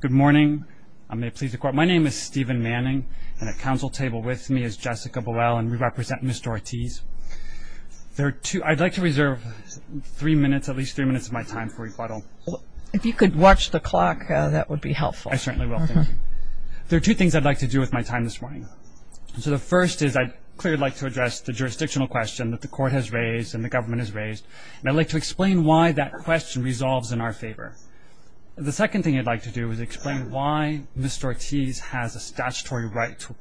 Good morning. My name is Stephen Manning, and at council table with me is Jessica Buell, and we represent Ms. Ortiz. I'd like to reserve three minutes, at least three minutes of my time for rebuttal. If you could watch the clock, that would be helpful. I certainly will. Thank you. There are two things I'd like to do with my time this morning. So the first is I'd clearly like to address the jurisdictional question that the court has raised and the government has raised, and I'd like to explain why that question resolves in our favor. The second thing I'd like to do is explain why Mr. Ortiz has a statutory right to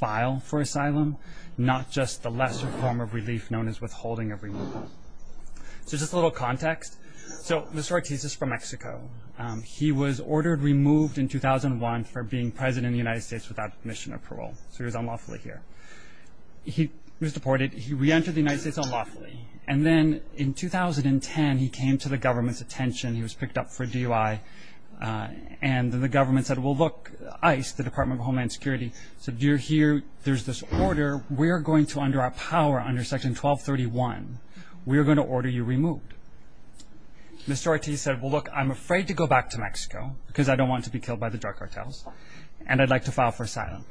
file for asylum, not just the lesser form of relief known as withholding of removal. So just a little context. So Mr. Ortiz is from Mexico. He was ordered removed in 2001 for being president of the United States without admission or parole. So he was unlawfully here. He was deported. He reentered the United States unlawfully. And then in 2010, he came to the government's attention. He was picked up for DUI. And the government said, well, look, ICE, the Department of Homeland Security, said, you're here. There's this order. We're going to, under our power, under Section 1231, we're going to order you removed. Mr. Ortiz said, well, look, I'm afraid to go back to Mexico because I don't want to be killed by the drug cartels, and I'd like to file for asylum.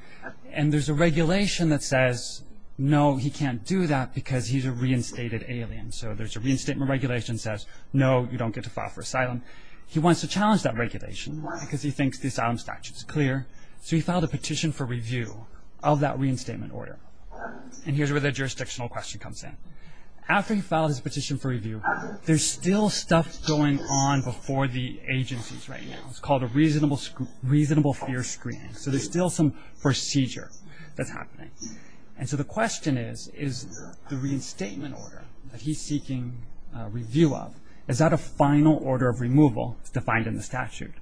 And there's a regulation that says, no, he can't do that because he's a reinstated alien. So there's a reinstatement regulation that says, no, you don't get to file for asylum. He wants to challenge that regulation because he thinks the asylum statute is clear. So he filed a petition for review of that reinstatement order. And here's where the jurisdictional question comes in. After he filed his petition for review, there's still stuff going on before the agencies right now. It's called a reasonable fear screening. So there's still some procedure that's happening. And so the question is, is the reinstatement order that he's seeking review of, is that a final order of removal defined in the statute?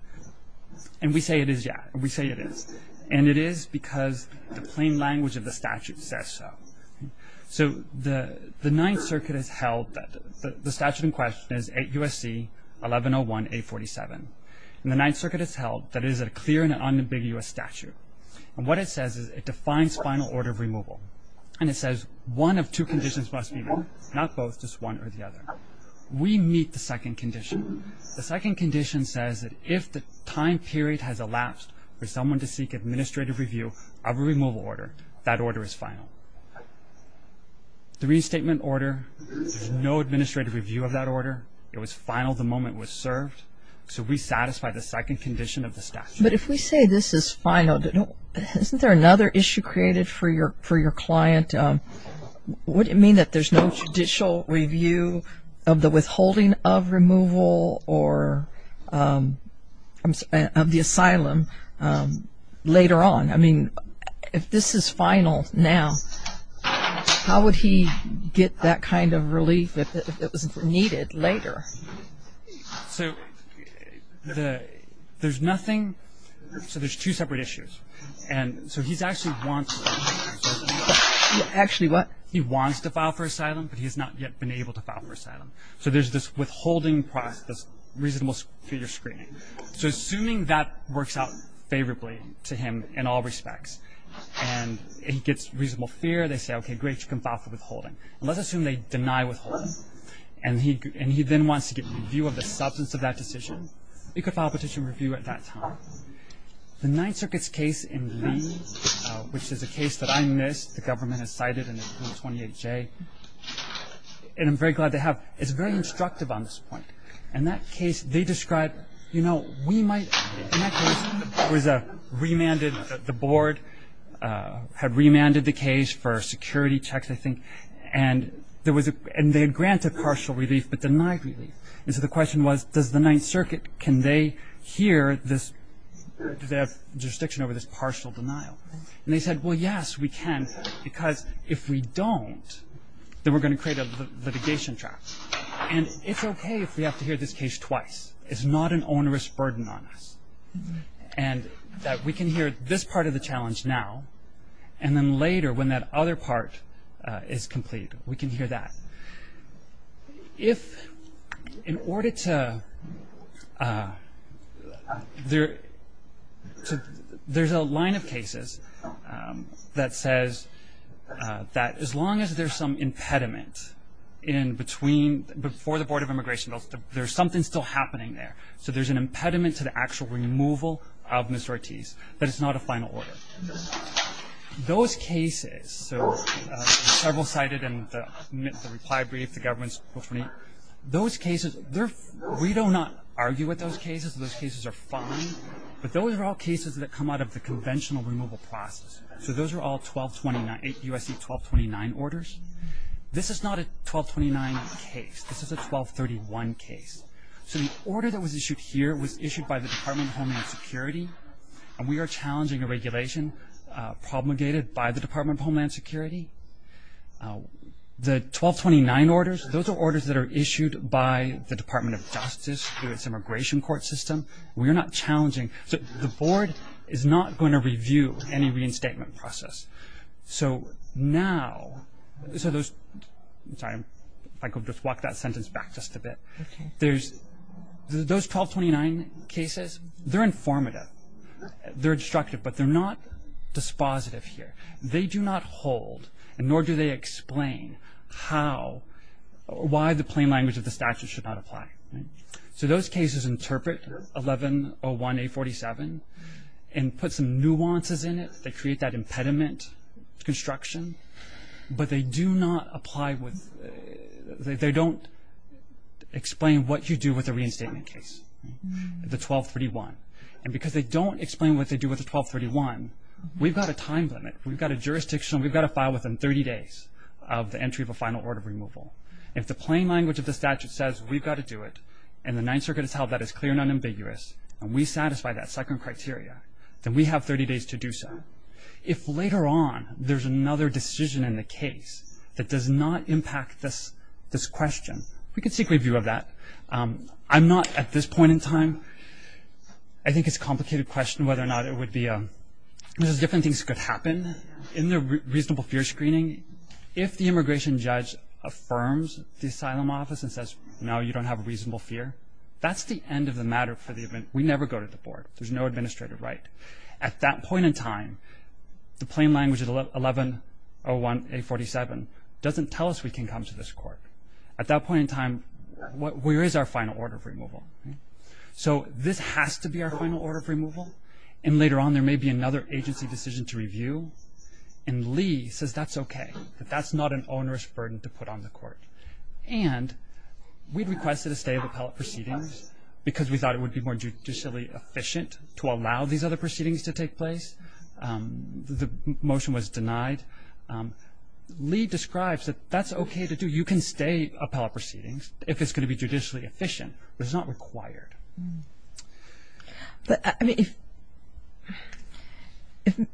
And we say it is, yeah. We say it is. And it is because the plain language of the statute says so. So the Ninth Circuit has held that the statute in question is 8 U.S.C. 1101-847. And the Ninth Circuit has held that it is a clear and unambiguous statute. And what it says is it defines final order of removal. And it says one of two conditions must be met, not both, just one or the other. We meet the second condition. The second condition says that if the time period has elapsed for someone to seek administrative review of a removal order, that order is final. The reinstatement order, there's no administrative review of that order. It was final the moment it was served. So we satisfy the second condition of the statute. But if we say this is final, isn't there another issue created for your client? Would it mean that there's no judicial review of the withholding of removal or of the asylum later on? I mean, if this is final now, how would he get that kind of relief if it was needed later? So there's nothing. So there's two separate issues. And so he's actually wants to file for asylum, but he's not yet been able to file for asylum. So there's this withholding process, reasonable fear screening. So assuming that works out favorably to him in all respects and he gets reasonable fear, they say, okay, great. You can file for withholding. And let's assume they deny withholding. And he then wants to get review of the substance of that decision. He could file a petition review at that time. The Ninth Circuit's case in Lee, which is a case that I missed, the government has cited in the 28-J, and I'm very glad they have, is very instructive on this point. In that case, they described, you know, we might ‑‑ in that case, there was a remanded, the board had remanded the case for security checks, I think. And there was a ‑‑ and they had granted partial relief but denied relief. And so the question was, does the Ninth Circuit, can they hear this, do they have jurisdiction over this partial denial? And they said, well, yes, we can, because if we don't, then we're going to create a litigation trial. And it's okay if we have to hear this case twice. It's not an onerous burden on us. And that we can hear this part of the challenge now, and then later when that other part is complete, we can hear that. If in order to ‑‑ there's a line of cases that says that as long as there's some impediment in between, before the Board of Immigration, there's something still happening there. So there's an impediment to the actual removal of Ms. Ortiz, that it's not a final order. Those cases, so several cited in the reply brief, the government's, those cases, we do not argue with those cases. Those cases are fine. But those are all cases that come out of the conventional removal process. So those are all 1229, USC 1229 orders. This is not a 1229 case. This is a 1231 case. So the order that was issued here was issued by the Department of Homeland Security. And we are challenging a regulation promulgated by the Department of Homeland Security. The 1229 orders, those are orders that are issued by the Department of Justice through its immigration court system. We are not challenging. So the board is not going to review any reinstatement process. So now, so those, sorry, if I could just walk that sentence back just a bit. Okay. There's, those 1229 cases, they're informative. They're instructive. But they're not dispositive here. They do not hold, nor do they explain how or why the plain language of the statute should not apply. So those cases interpret 1101A47 and put some nuances in it. They create that impediment to construction. But they do not apply with, they don't explain what you do with a reinstatement case, the 1231. And because they don't explain what they do with the 1231, we've got a time limit. We've got a jurisdictional, we've got to file within 30 days of the entry of a final order removal. If the plain language of the statute says we've got to do it, and the Ninth Circuit has held that is clear and unambiguous, and we satisfy that second criteria, then we have 30 days to do so. But if later on there's another decision in the case that does not impact this question, we can seek review of that. I'm not, at this point in time, I think it's a complicated question whether or not it would be a, there's different things that could happen in the reasonable fear screening. If the immigration judge affirms the asylum office and says, no, you don't have reasonable fear, that's the end of the matter for the, we never go to the board. There's no administrative right. At that point in time, the plain language of the 1101A47 doesn't tell us we can come to this court. At that point in time, where is our final order of removal? So this has to be our final order of removal. And later on there may be another agency decision to review. And Lee says that's okay, that that's not an onerous burden to put on the court. And we requested a stay of appellate proceedings because we thought it would be more judicially efficient to allow these other proceedings to take place. The motion was denied. Lee describes that that's okay to do. You can stay appellate proceedings if it's going to be judicially efficient, but it's not required. If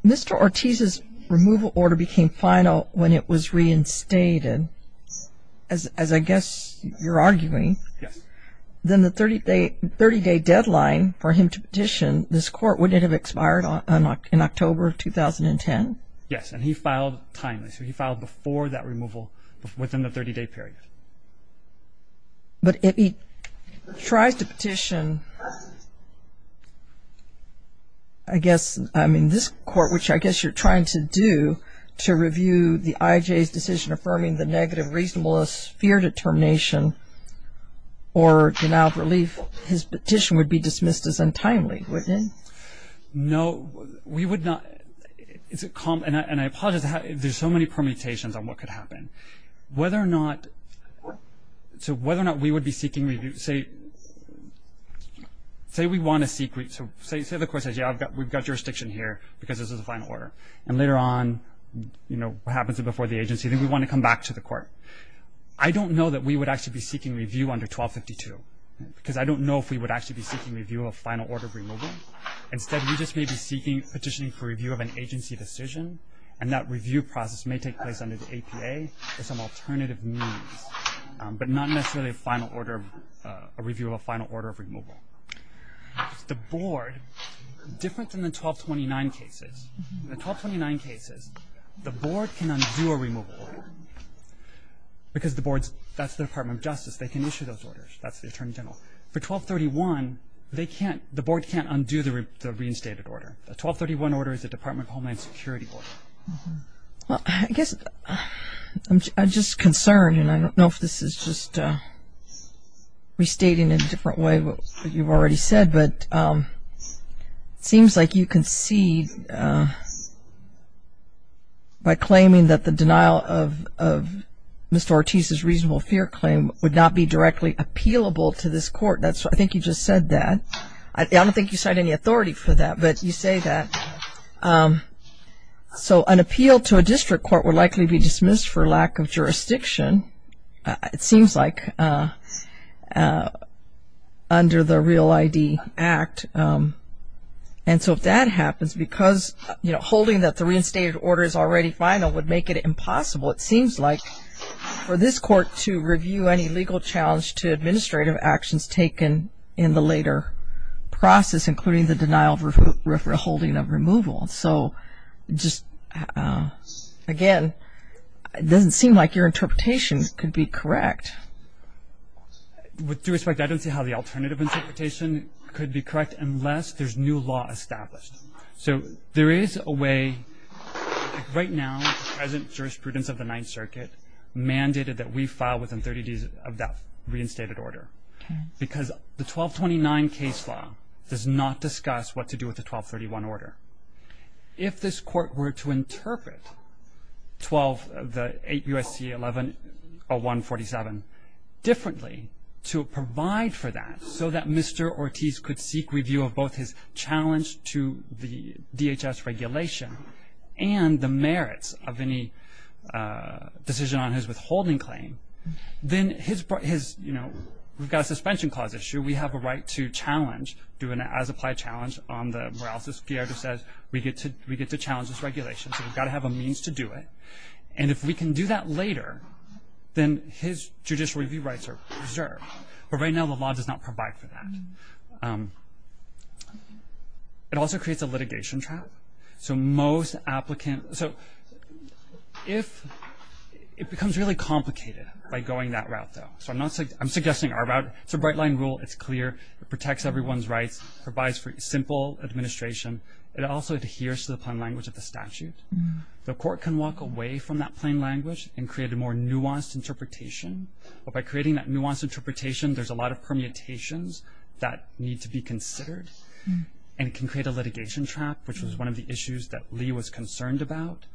Mr. Ortiz's removal order became final when it was reinstated, as I guess you're arguing, then the 30-day deadline for him to petition this court, wouldn't it have expired in October of 2010? Yes, and he filed timely. So he filed before that removal within the 30-day period. But if he tries to petition, I guess, I mean, this court, which I guess you're trying to do to review the IJ's decision affirming the negative reasonableness, fear determination, or denial of relief, his petition would be dismissed as untimely, wouldn't it? No, we would not. And I apologize, there's so many permutations on what could happen. Whether or not we would be seeking review, say we want to seek, say the court says, yeah, we've got jurisdiction here because this is a final order, and later on what happens before the agency, then we want to come back to the court. I don't know that we would actually be seeking review under 1252, because I don't know if we would actually be seeking review of a final order of removal. Instead, we just may be seeking petitioning for review of an agency decision, and that review process may take place under the APA or some alternative means, but not necessarily a final order of review of a final order of removal. The board, different than the 1229 cases, the 1229 cases, the board can undo a removal order, because the board's, that's the Department of Justice, they can issue those orders, that's the Attorney General. For 1231, they can't, the board can't undo the reinstated order. The 1231 order is a Department of Homeland Security order. Well, I guess, I'm just concerned, and I don't know if this is just restating in a different way what you've already said, but it seems like you concede by claiming that the denial of Mr. Ortiz's reasonable fear claim would not be directly appealable to this court. I think you just said that. I don't think you cite any authority for that, but you say that. So an appeal to a district court would likely be dismissed for lack of jurisdiction, it seems like, under the REAL ID Act. And so if that happens, because, you know, holding that the reinstated order is already final would make it impossible, it seems like for this court to review any legal challenge to administrative actions taken in the later process, including the denial of holding of removal. So just, again, it doesn't seem like your interpretation could be correct. With due respect, I don't see how the alternative interpretation could be correct unless there's new law established. So there is a way, right now, the present jurisprudence of the Ninth Circuit mandated that we file within 30 days of that reinstated order, because the 1229 case law does not discuss what to do with the 1231 order. If this court were to interpret the 8 U.S.C. 11-01-47 differently to provide for that, so that Mr. Ortiz could seek review of both his challenge to the DHS regulation and the merits of any decision on his withholding claim, then his, you know, we've got a suspension clause issue. We have a right to challenge, do an as-applied challenge on the Morales-Esquire, which says we get to challenge this regulation, so we've got to have a means to do it. And if we can do that later, then his judicial review rights are preserved. But right now the law does not provide for that. It also creates a litigation trap. So most applicants – so if – it becomes really complicated by going that route, though. So I'm not – I'm suggesting our route. It's a bright-line rule. It's clear. It protects everyone's rights, provides for simple administration. It also adheres to the plain language of the statute. The court can walk away from that plain language and create a more nuanced interpretation. But by creating that nuanced interpretation, there's a lot of permutations that need to be considered, and it can create a litigation trap, which was one of the issues that Lee was concerned about.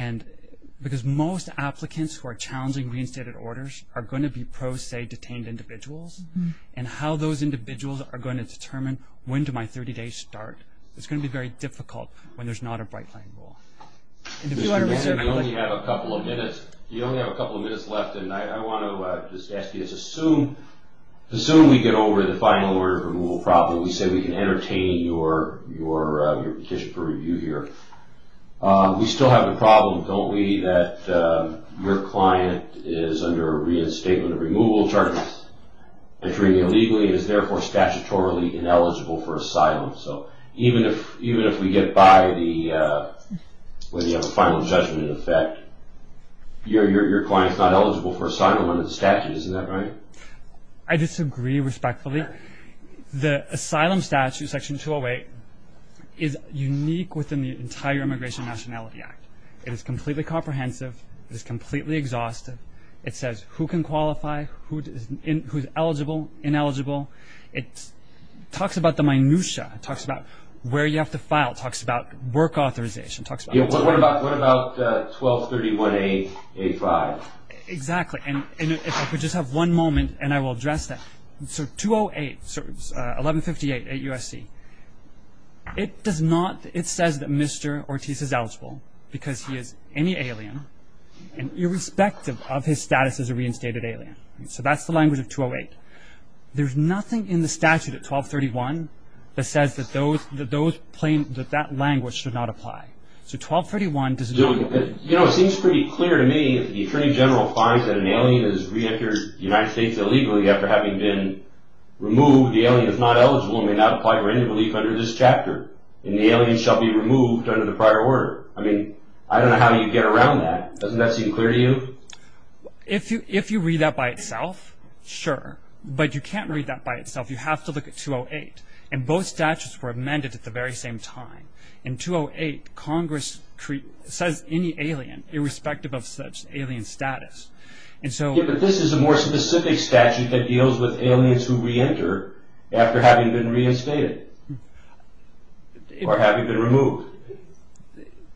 And because most applicants who are challenging reinstated orders are going to be pro, say, detained individuals, and how those individuals are going to determine when do my 30 days start, it's going to be very difficult when there's not a bright-line rule. And if you want to reserve – You only have a couple of minutes. You only have a couple of minutes left, and I want to just ask you this. Assume we get over the final order of removal problem. We say we can entertain your petition for review here. We still have a problem, don't we, that your client is under a reinstatement of removal charges and treating illegally and is therefore statutorily ineligible for asylum. So even if we get by the – when you have a final judgment effect, your client's not eligible for asylum under the statute. Isn't that right? I disagree respectfully. The asylum statute, Section 208, is unique within the entire Immigration and Nationality Act. It is completely comprehensive. It is completely exhaustive. It says who can qualify, who's eligible, ineligible. It talks about the minutia. It talks about where you have to file. It talks about work authorization. What about 1231A5? Exactly. And if I could just have one moment, and I will address that. So 208, 1158, 8 U.S.C., it does not – it says that Mr. Ortiz is eligible because he is any alien and irrespective of his status as a reinstated alien. So that's the language of 208. There's nothing in the statute at 1231 that says that those – that that language should not apply. So 1231 does not – You know, it seems pretty clear to me that the Attorney General finds that an alien has re-entered the United States illegally after having been removed. The alien is not eligible and may not apply for any relief under this chapter. And the alien shall be removed under the prior order. I mean, I don't know how you get around that. Doesn't that seem clear to you? If you read that by itself, sure. But you can't read that by itself. You have to look at 208. And both statutes were amended at the very same time. In 208, Congress says any alien irrespective of such alien status. And so – Yeah, but this is a more specific statute that deals with aliens who re-enter after having been reinstated or having been removed.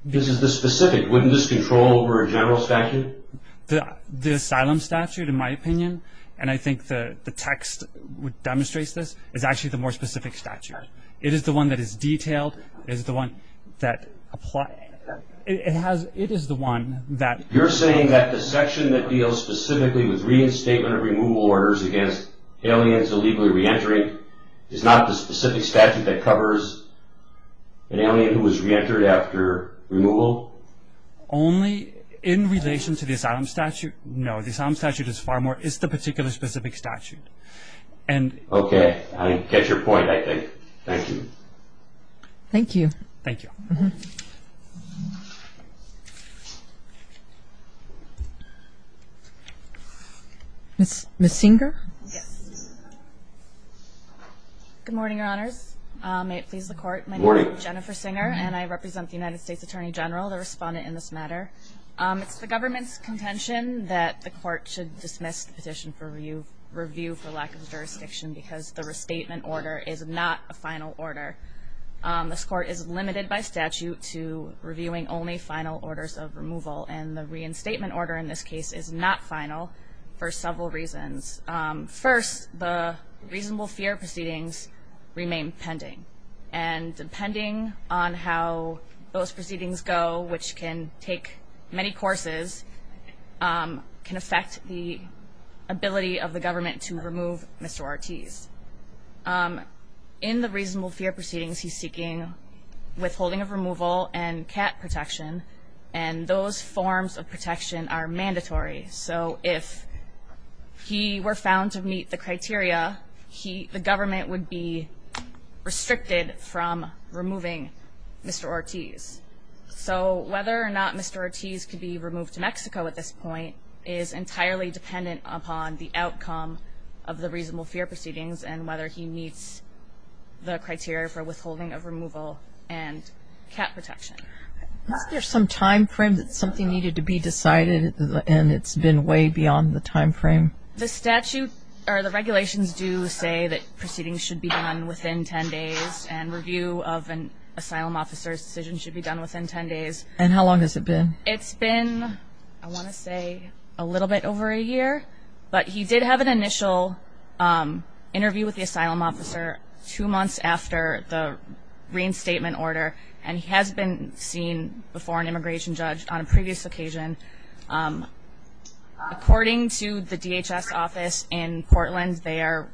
This is the specific. Wouldn't this control over a general statute? The asylum statute, in my opinion, and I think the text demonstrates this, is actually the more specific statute. It is the one that is detailed. It is the one that applies – it has – it is the one that – You're saying that the section that deals specifically with reinstatement of removal orders against aliens illegally re-entering is not the specific statute that covers an alien who was re-entered after removal? Only in relation to the asylum statute. No, the asylum statute is far more – is the particular specific statute. And – Okay, I get your point, I think. Thank you. Thank you. Thank you. Ms. Singer? Yes. Good morning, Your Honors. May it please the Court. Good morning. My name is Jennifer Singer, and I represent the United States Attorney General, the respondent in this matter. It's the government's contention that the Court should dismiss the petition for review for lack of jurisdiction because the restatement order is not a final order. This Court is limited by statute to reviewing only final orders of removal, and the reinstatement order in this case is not final for several reasons. First, the reasonable fear proceedings remain pending, and depending on how those proceedings go, which can take many courses, can affect the ability of the government to remove Mr. Ortiz. In the reasonable fear proceedings, he's seeking withholding of removal and cat protection, and those forms of protection are mandatory. So if he were found to meet the criteria, the government would be restricted from removing Mr. Ortiz. So whether or not Mr. Ortiz could be removed to Mexico at this point is entirely dependent upon the outcome of the reasonable fear proceedings and whether he meets the criteria for withholding of removal and cat protection. Is there some time frame that something needed to be decided, and it's been way beyond the time frame? The regulations do say that proceedings should be done within 10 days, and review of an asylum officer's decision should be done within 10 days. And how long has it been? It's been, I want to say, a little bit over a year, but he did have an initial interview with the asylum officer two months after the reinstatement order, and he has been seen before an immigration judge on a previous occasion. According to the DHS office in Portland, they are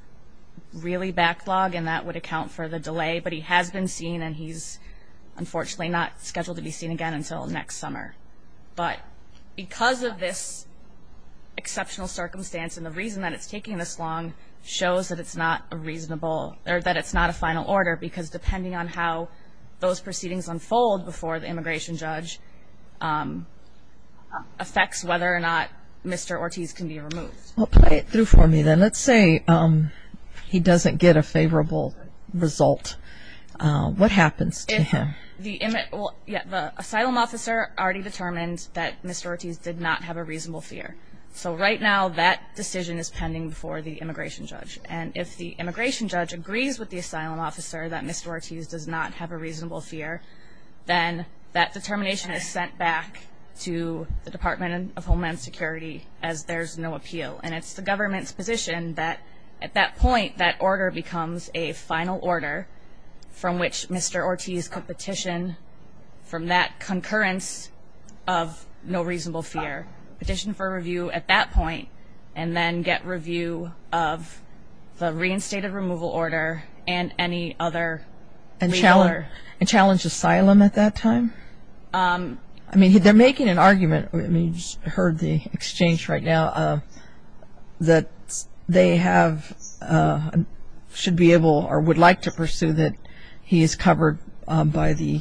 really backlogged, and that would account for the delay, but he has been seen, and he's unfortunately not scheduled to be seen again until next summer. But because of this exceptional circumstance, and the reason that it's taking this long shows that it's not a reasonable, or that it's not a final order because depending on how those proceedings unfold before the immigration judge, affects whether or not Mr. Ortiz can be removed. Well, play it through for me then. Let's say he doesn't get a favorable result. What happens to him? The asylum officer already determined that Mr. Ortiz did not have a reasonable fear. So right now, that decision is pending before the immigration judge, and if the immigration judge agrees with the asylum officer that Mr. Ortiz does not have a reasonable fear, then that determination is sent back to the Department of Homeland Security as there's no appeal, and it's the government's position that at that point, that order becomes a final order from which Mr. Ortiz could petition, from that concurrence of no reasonable fear, petition for review at that point, and then get review of the reinstated removal order and any other. And challenge asylum at that time? I mean, they're making an argument, you just heard the exchange right now, that they have, should be able, or would like to pursue that he is covered by the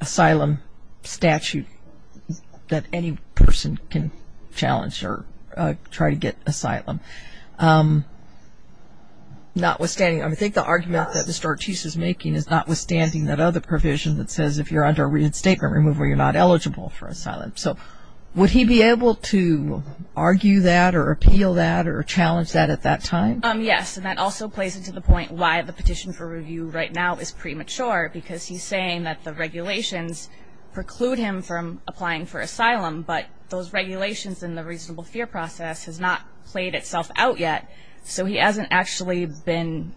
asylum statute that any person can challenge or try to get asylum. Notwithstanding, I think the argument that Mr. Ortiz is making is notwithstanding that other provision that says if you're under reinstatement removal, you're not eligible for asylum. So would he be able to argue that or appeal that or challenge that at that time? Yes, and that also plays into the point why the petition for review right now is premature, because he's saying that the regulations preclude him from applying for asylum, but those regulations and the reasonable fear process has not played itself out yet. So he hasn't actually been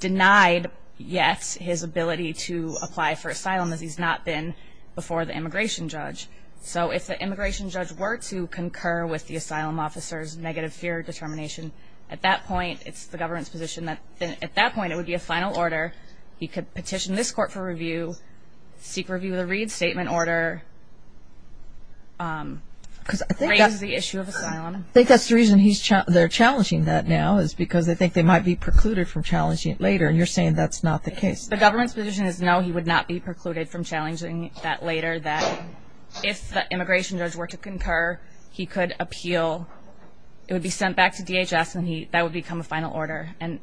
denied yet his ability to apply for asylum as he's not been before the immigration judge. So if the immigration judge were to concur with the asylum officer's negative fear determination at that point, it's the government's position that at that point, it would be a final order. He could petition this court for review, seek review of the Reed Statement order, raise the issue of asylum. I think that's the reason they're challenging that now, is because they think they might be precluded from challenging it later, and you're saying that's not the case. The government's position is no, he would not be precluded from challenging that later, that if the immigration judge were to concur, he could appeal. It would be sent back to DHS, and that would become a final order. I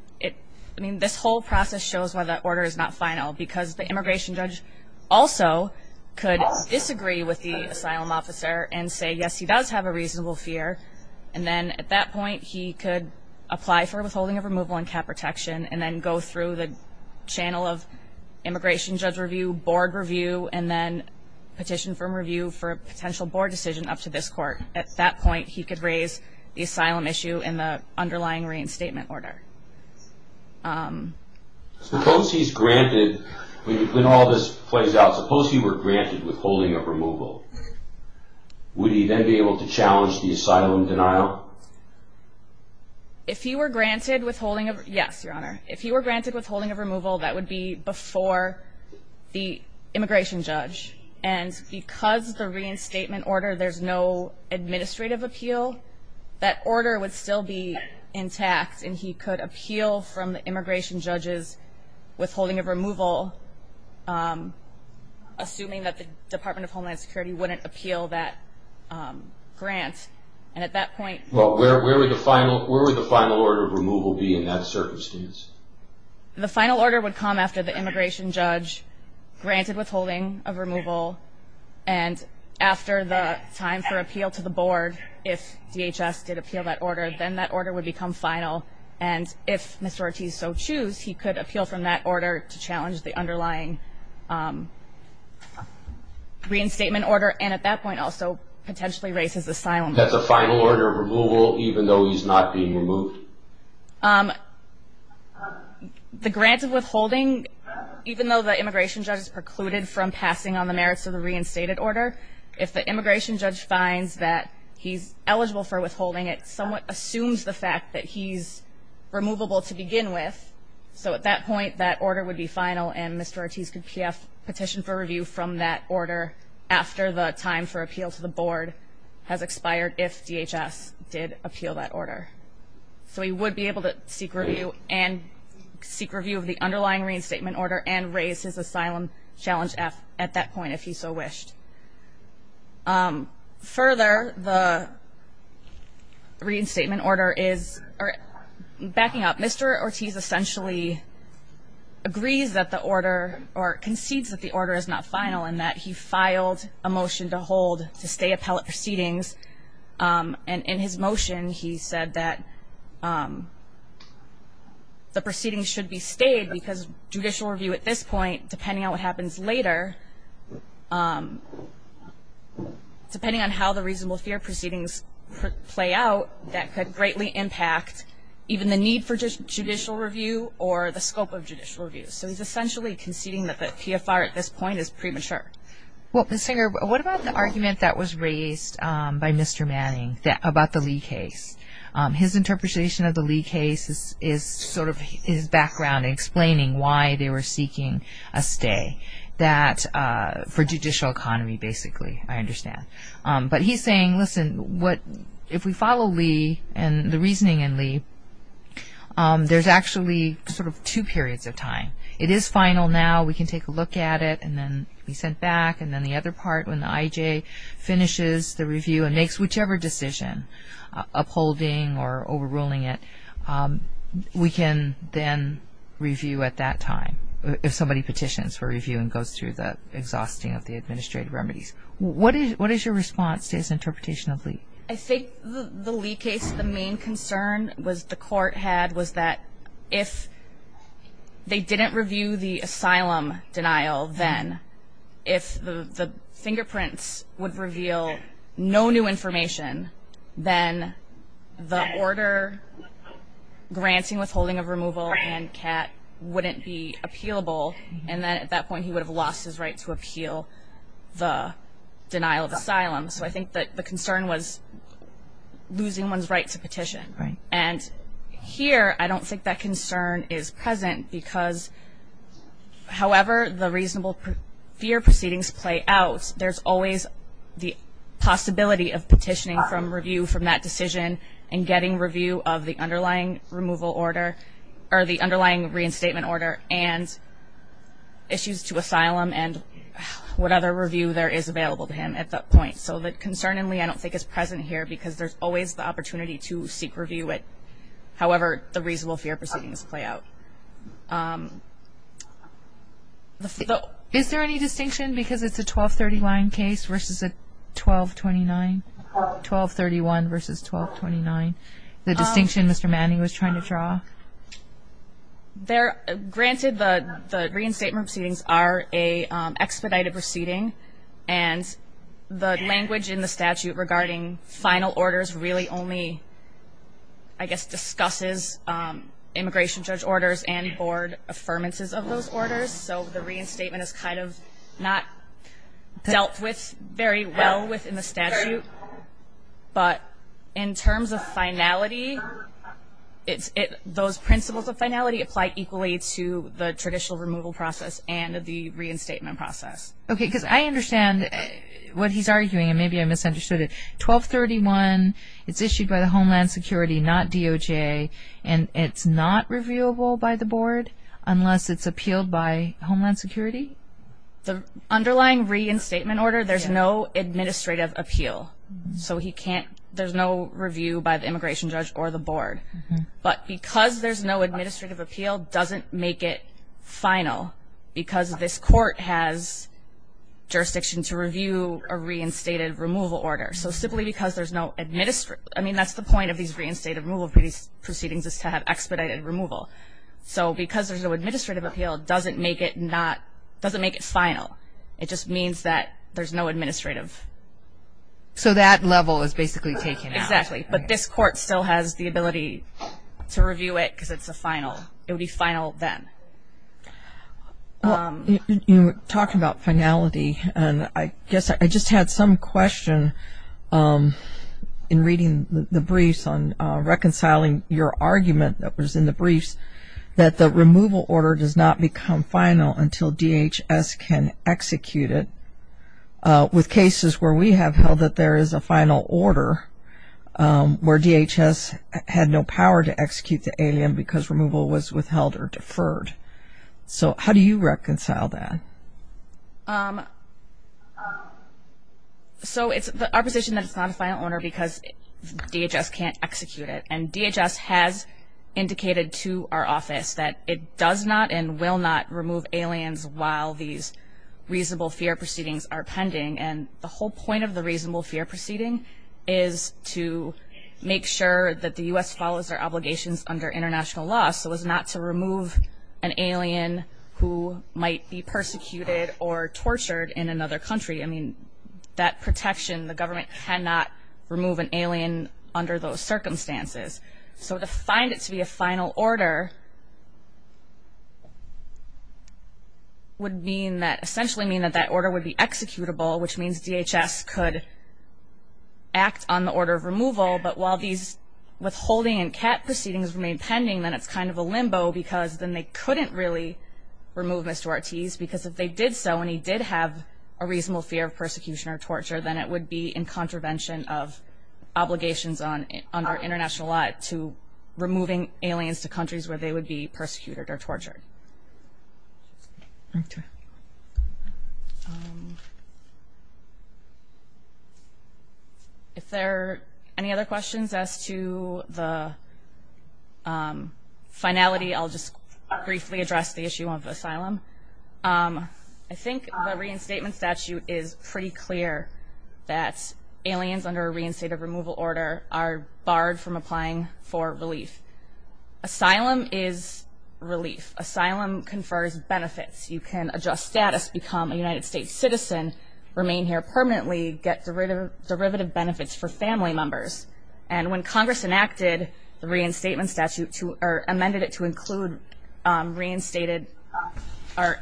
mean, this whole process shows why that order is not final, because the immigration judge also could disagree with the asylum officer and say, yes, he does have a reasonable fear, and then at that point, he could apply for withholding of removal and cap protection, and then go through the channel of immigration judge review, board review, and then petition for review for a potential board decision up to this court. At that point, he could raise the asylum issue in the underlying Reed Statement order. Suppose he's granted, when all this plays out, suppose he were granted withholding of removal, would he then be able to challenge the asylum denial? If he were granted withholding of, yes, Your Honor. If he were granted withholding of removal, that would be before the immigration judge, and because the Reed Statement order, there's no administrative appeal, that order would still be intact, and he could appeal from the immigration judge's withholding of removal, assuming that the Department of Homeland Security wouldn't appeal that grant, and at that point. Well, where would the final order of removal be in that circumstance? The final order would come after the immigration judge granted withholding of removal, and after the time for appeal to the board, if DHS did appeal that order, then that order would become final, and if Mr. Ortiz so choose, he could appeal from that order to challenge the underlying Reed Statement order, and at that point also potentially raise his asylum. That's a final order of removal, even though he's not being removed? The grant of withholding, even though the immigration judge has precluded from passing on the merits of the reinstated order, if the immigration judge finds that he's eligible for withholding, it somewhat assumes the fact that he's removable to begin with, so at that point, that order would be final, and Mr. Ortiz could petition for review from that order after the time for appeal to the board has expired, if DHS did appeal that order. So he would be able to seek review of the underlying Reed Statement order and raise his asylum challenge at that point, if he so wished. Further, the Reed Statement order is backing up. Mr. Ortiz essentially agrees that the order or concedes that the order is not final and that he filed a motion to hold, to stay appellate proceedings, and in his motion he said that the proceedings should be stayed because judicial review at this point, depending on what happens later, depending on how the reasonable fear proceedings play out, that could greatly impact even the need for judicial review or the scope of judicial review. So he's essentially conceding that the PFR at this point is premature. Well, Ms. Singer, what about the argument that was raised by Mr. Manning about the Lee case? His interpretation of the Lee case is sort of his background in explaining why they were seeking a stay for judicial economy, basically, I understand. But he's saying, listen, if we follow Lee and the reasoning in Lee, there's actually sort of two periods of time. It is final now. We can take a look at it and then be sent back, and then the other part when the IJ finishes the review and makes whichever decision, upholding or overruling it, we can then review at that time, if somebody petitions for review and goes through the exhausting of the administrative remedies. What is your response to his interpretation of Lee? I think the Lee case, the main concern the court had was that if they didn't review the asylum denial then, if the fingerprints would reveal no new information, then the order granting withholding of removal and CAT wouldn't be appealable, and then at that point he would have lost his right to appeal the denial of asylum. So I think that the concern was losing one's right to petition. And here I don't think that concern is present because however the reasonable fear proceedings play out, there's always the possibility of petitioning from review from that decision and getting review of the underlying removal order or the underlying reinstatement order and issues to asylum and what other review there is available to him at that point. So concerningly I don't think it's present here because there's always the opportunity to seek review, however the reasonable fear proceedings play out. Is there any distinction because it's a 1230 line case versus a 1229, 1231 versus 1229, the distinction Mr. Manning was trying to draw? Granted the reinstatement proceedings are an expedited proceeding and the language in the statute regarding final orders really only, I guess, discusses immigration judge orders and board affirmances of those orders, so the reinstatement is kind of not dealt with very well within the statute, but in terms of finality, those principles of finality apply equally to the traditional removal process and the reinstatement process. Okay, because I understand what he's arguing and maybe I misunderstood it. 1231, it's issued by the Homeland Security, not DOJ, and it's not reviewable by the board unless it's appealed by Homeland Security? The underlying reinstatement order, there's no administrative appeal, so there's no review by the immigration judge or the board, but because there's no administrative appeal doesn't make it final because this court has jurisdiction to review a reinstated removal order. So simply because there's no administrative, I mean that's the point of these reinstated removal proceedings is to have expedited removal. So because there's no administrative appeal doesn't make it final. It just means that there's no administrative. So that level is basically taken out. Exactly, but this court still has the ability to review it because it's a final. It would be final then. You were talking about finality, and I guess I just had some question in reading the briefs on reconciling your argument that was in the briefs that the removal order does not become final until DHS can execute it. With cases where we have held that there is a final order, where DHS had no power to execute the alien because removal was withheld or deferred. So how do you reconcile that? So it's our position that it's not a final order because DHS can't execute it, and DHS has indicated to our office that it does not and will not remove aliens while these reasonable fear proceedings are pending. And the whole point of the reasonable fear proceeding is to make sure that the U.S. follows their obligations under international law, so as not to remove an alien who might be persecuted or tortured in another country. I mean, that protection, the government cannot remove an alien under those circumstances. So to find it to be a final order would essentially mean that that order would be executable, which means DHS could act on the order of removal. But while these withholding and CAT proceedings remain pending, then it's kind of a limbo because then they couldn't really remove Mr. Ortiz because if they did so and he did have a reasonable fear of persecution or torture, then it would be in contravention of obligations under international law to removing aliens to countries where they would be persecuted or tortured. Okay. If there are any other questions as to the finality, I'll just briefly address the issue of asylum. I think the reinstatement statute is pretty clear that aliens under a reinstated removal order Asylum is relief. Asylum confers benefits. You can adjust status, become a United States citizen, remain here permanently, get derivative benefits for family members. And when Congress enacted the reinstatement statute or amended it to include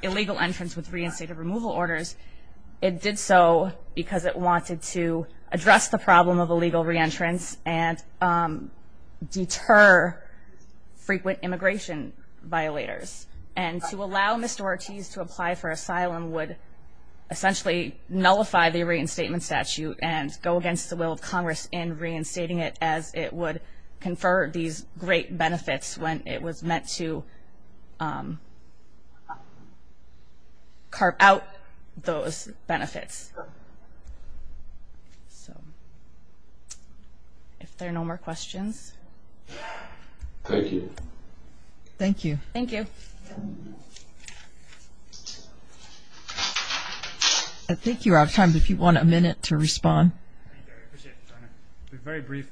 illegal entrance with reinstated removal orders, it did so because it wanted to address the problem of illegal reentrance and deter frequent immigration violators. And to allow Mr. Ortiz to apply for asylum would essentially nullify the reinstatement statute and go against the will of Congress in reinstating it as it would confer these great benefits when it was meant to carve out those benefits. So if there are no more questions. Thank you. Thank you. Thank you. I think you're out of time, but if you want a minute to respond. Very brief.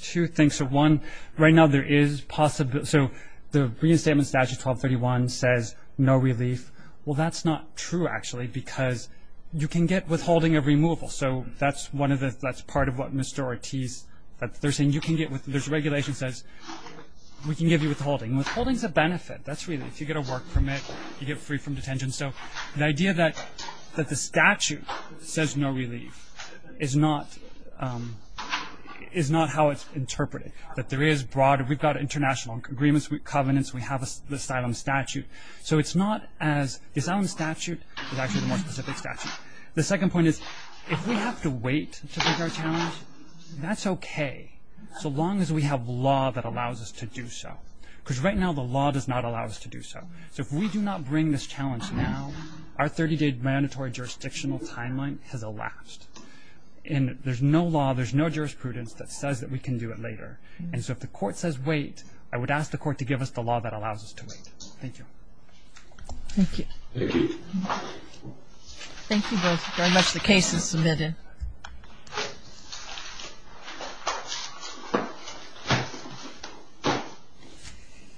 Two things. One, right now there is possibility. So the reinstatement statute 1231 says no relief. Well, that's not true, actually, because you can get withholding of removal. So that's part of what Mr. Ortiz, there's a regulation that says we can give you withholding. Withholding is a benefit. If you get a work permit, you get free from detention. So the idea that the statute says no relief is not how it's interpreted, that there is broader. We've got international agreements with covenants. We have the asylum statute. So it's not as the asylum statute is actually the more specific statute. The second point is if we have to wait to take our challenge, that's okay, so long as we have law that allows us to do so, because right now the law does not allow us to do so. So if we do not bring this challenge now, our 30-day mandatory jurisdictional timeline has elapsed. And there's no law, there's no jurisprudence that says that we can do it later. And so if the court says wait, I would ask the court to give us the law that allows us to wait. Thank you. Thank you. Thank you. Thank you both very much. The case is submitted.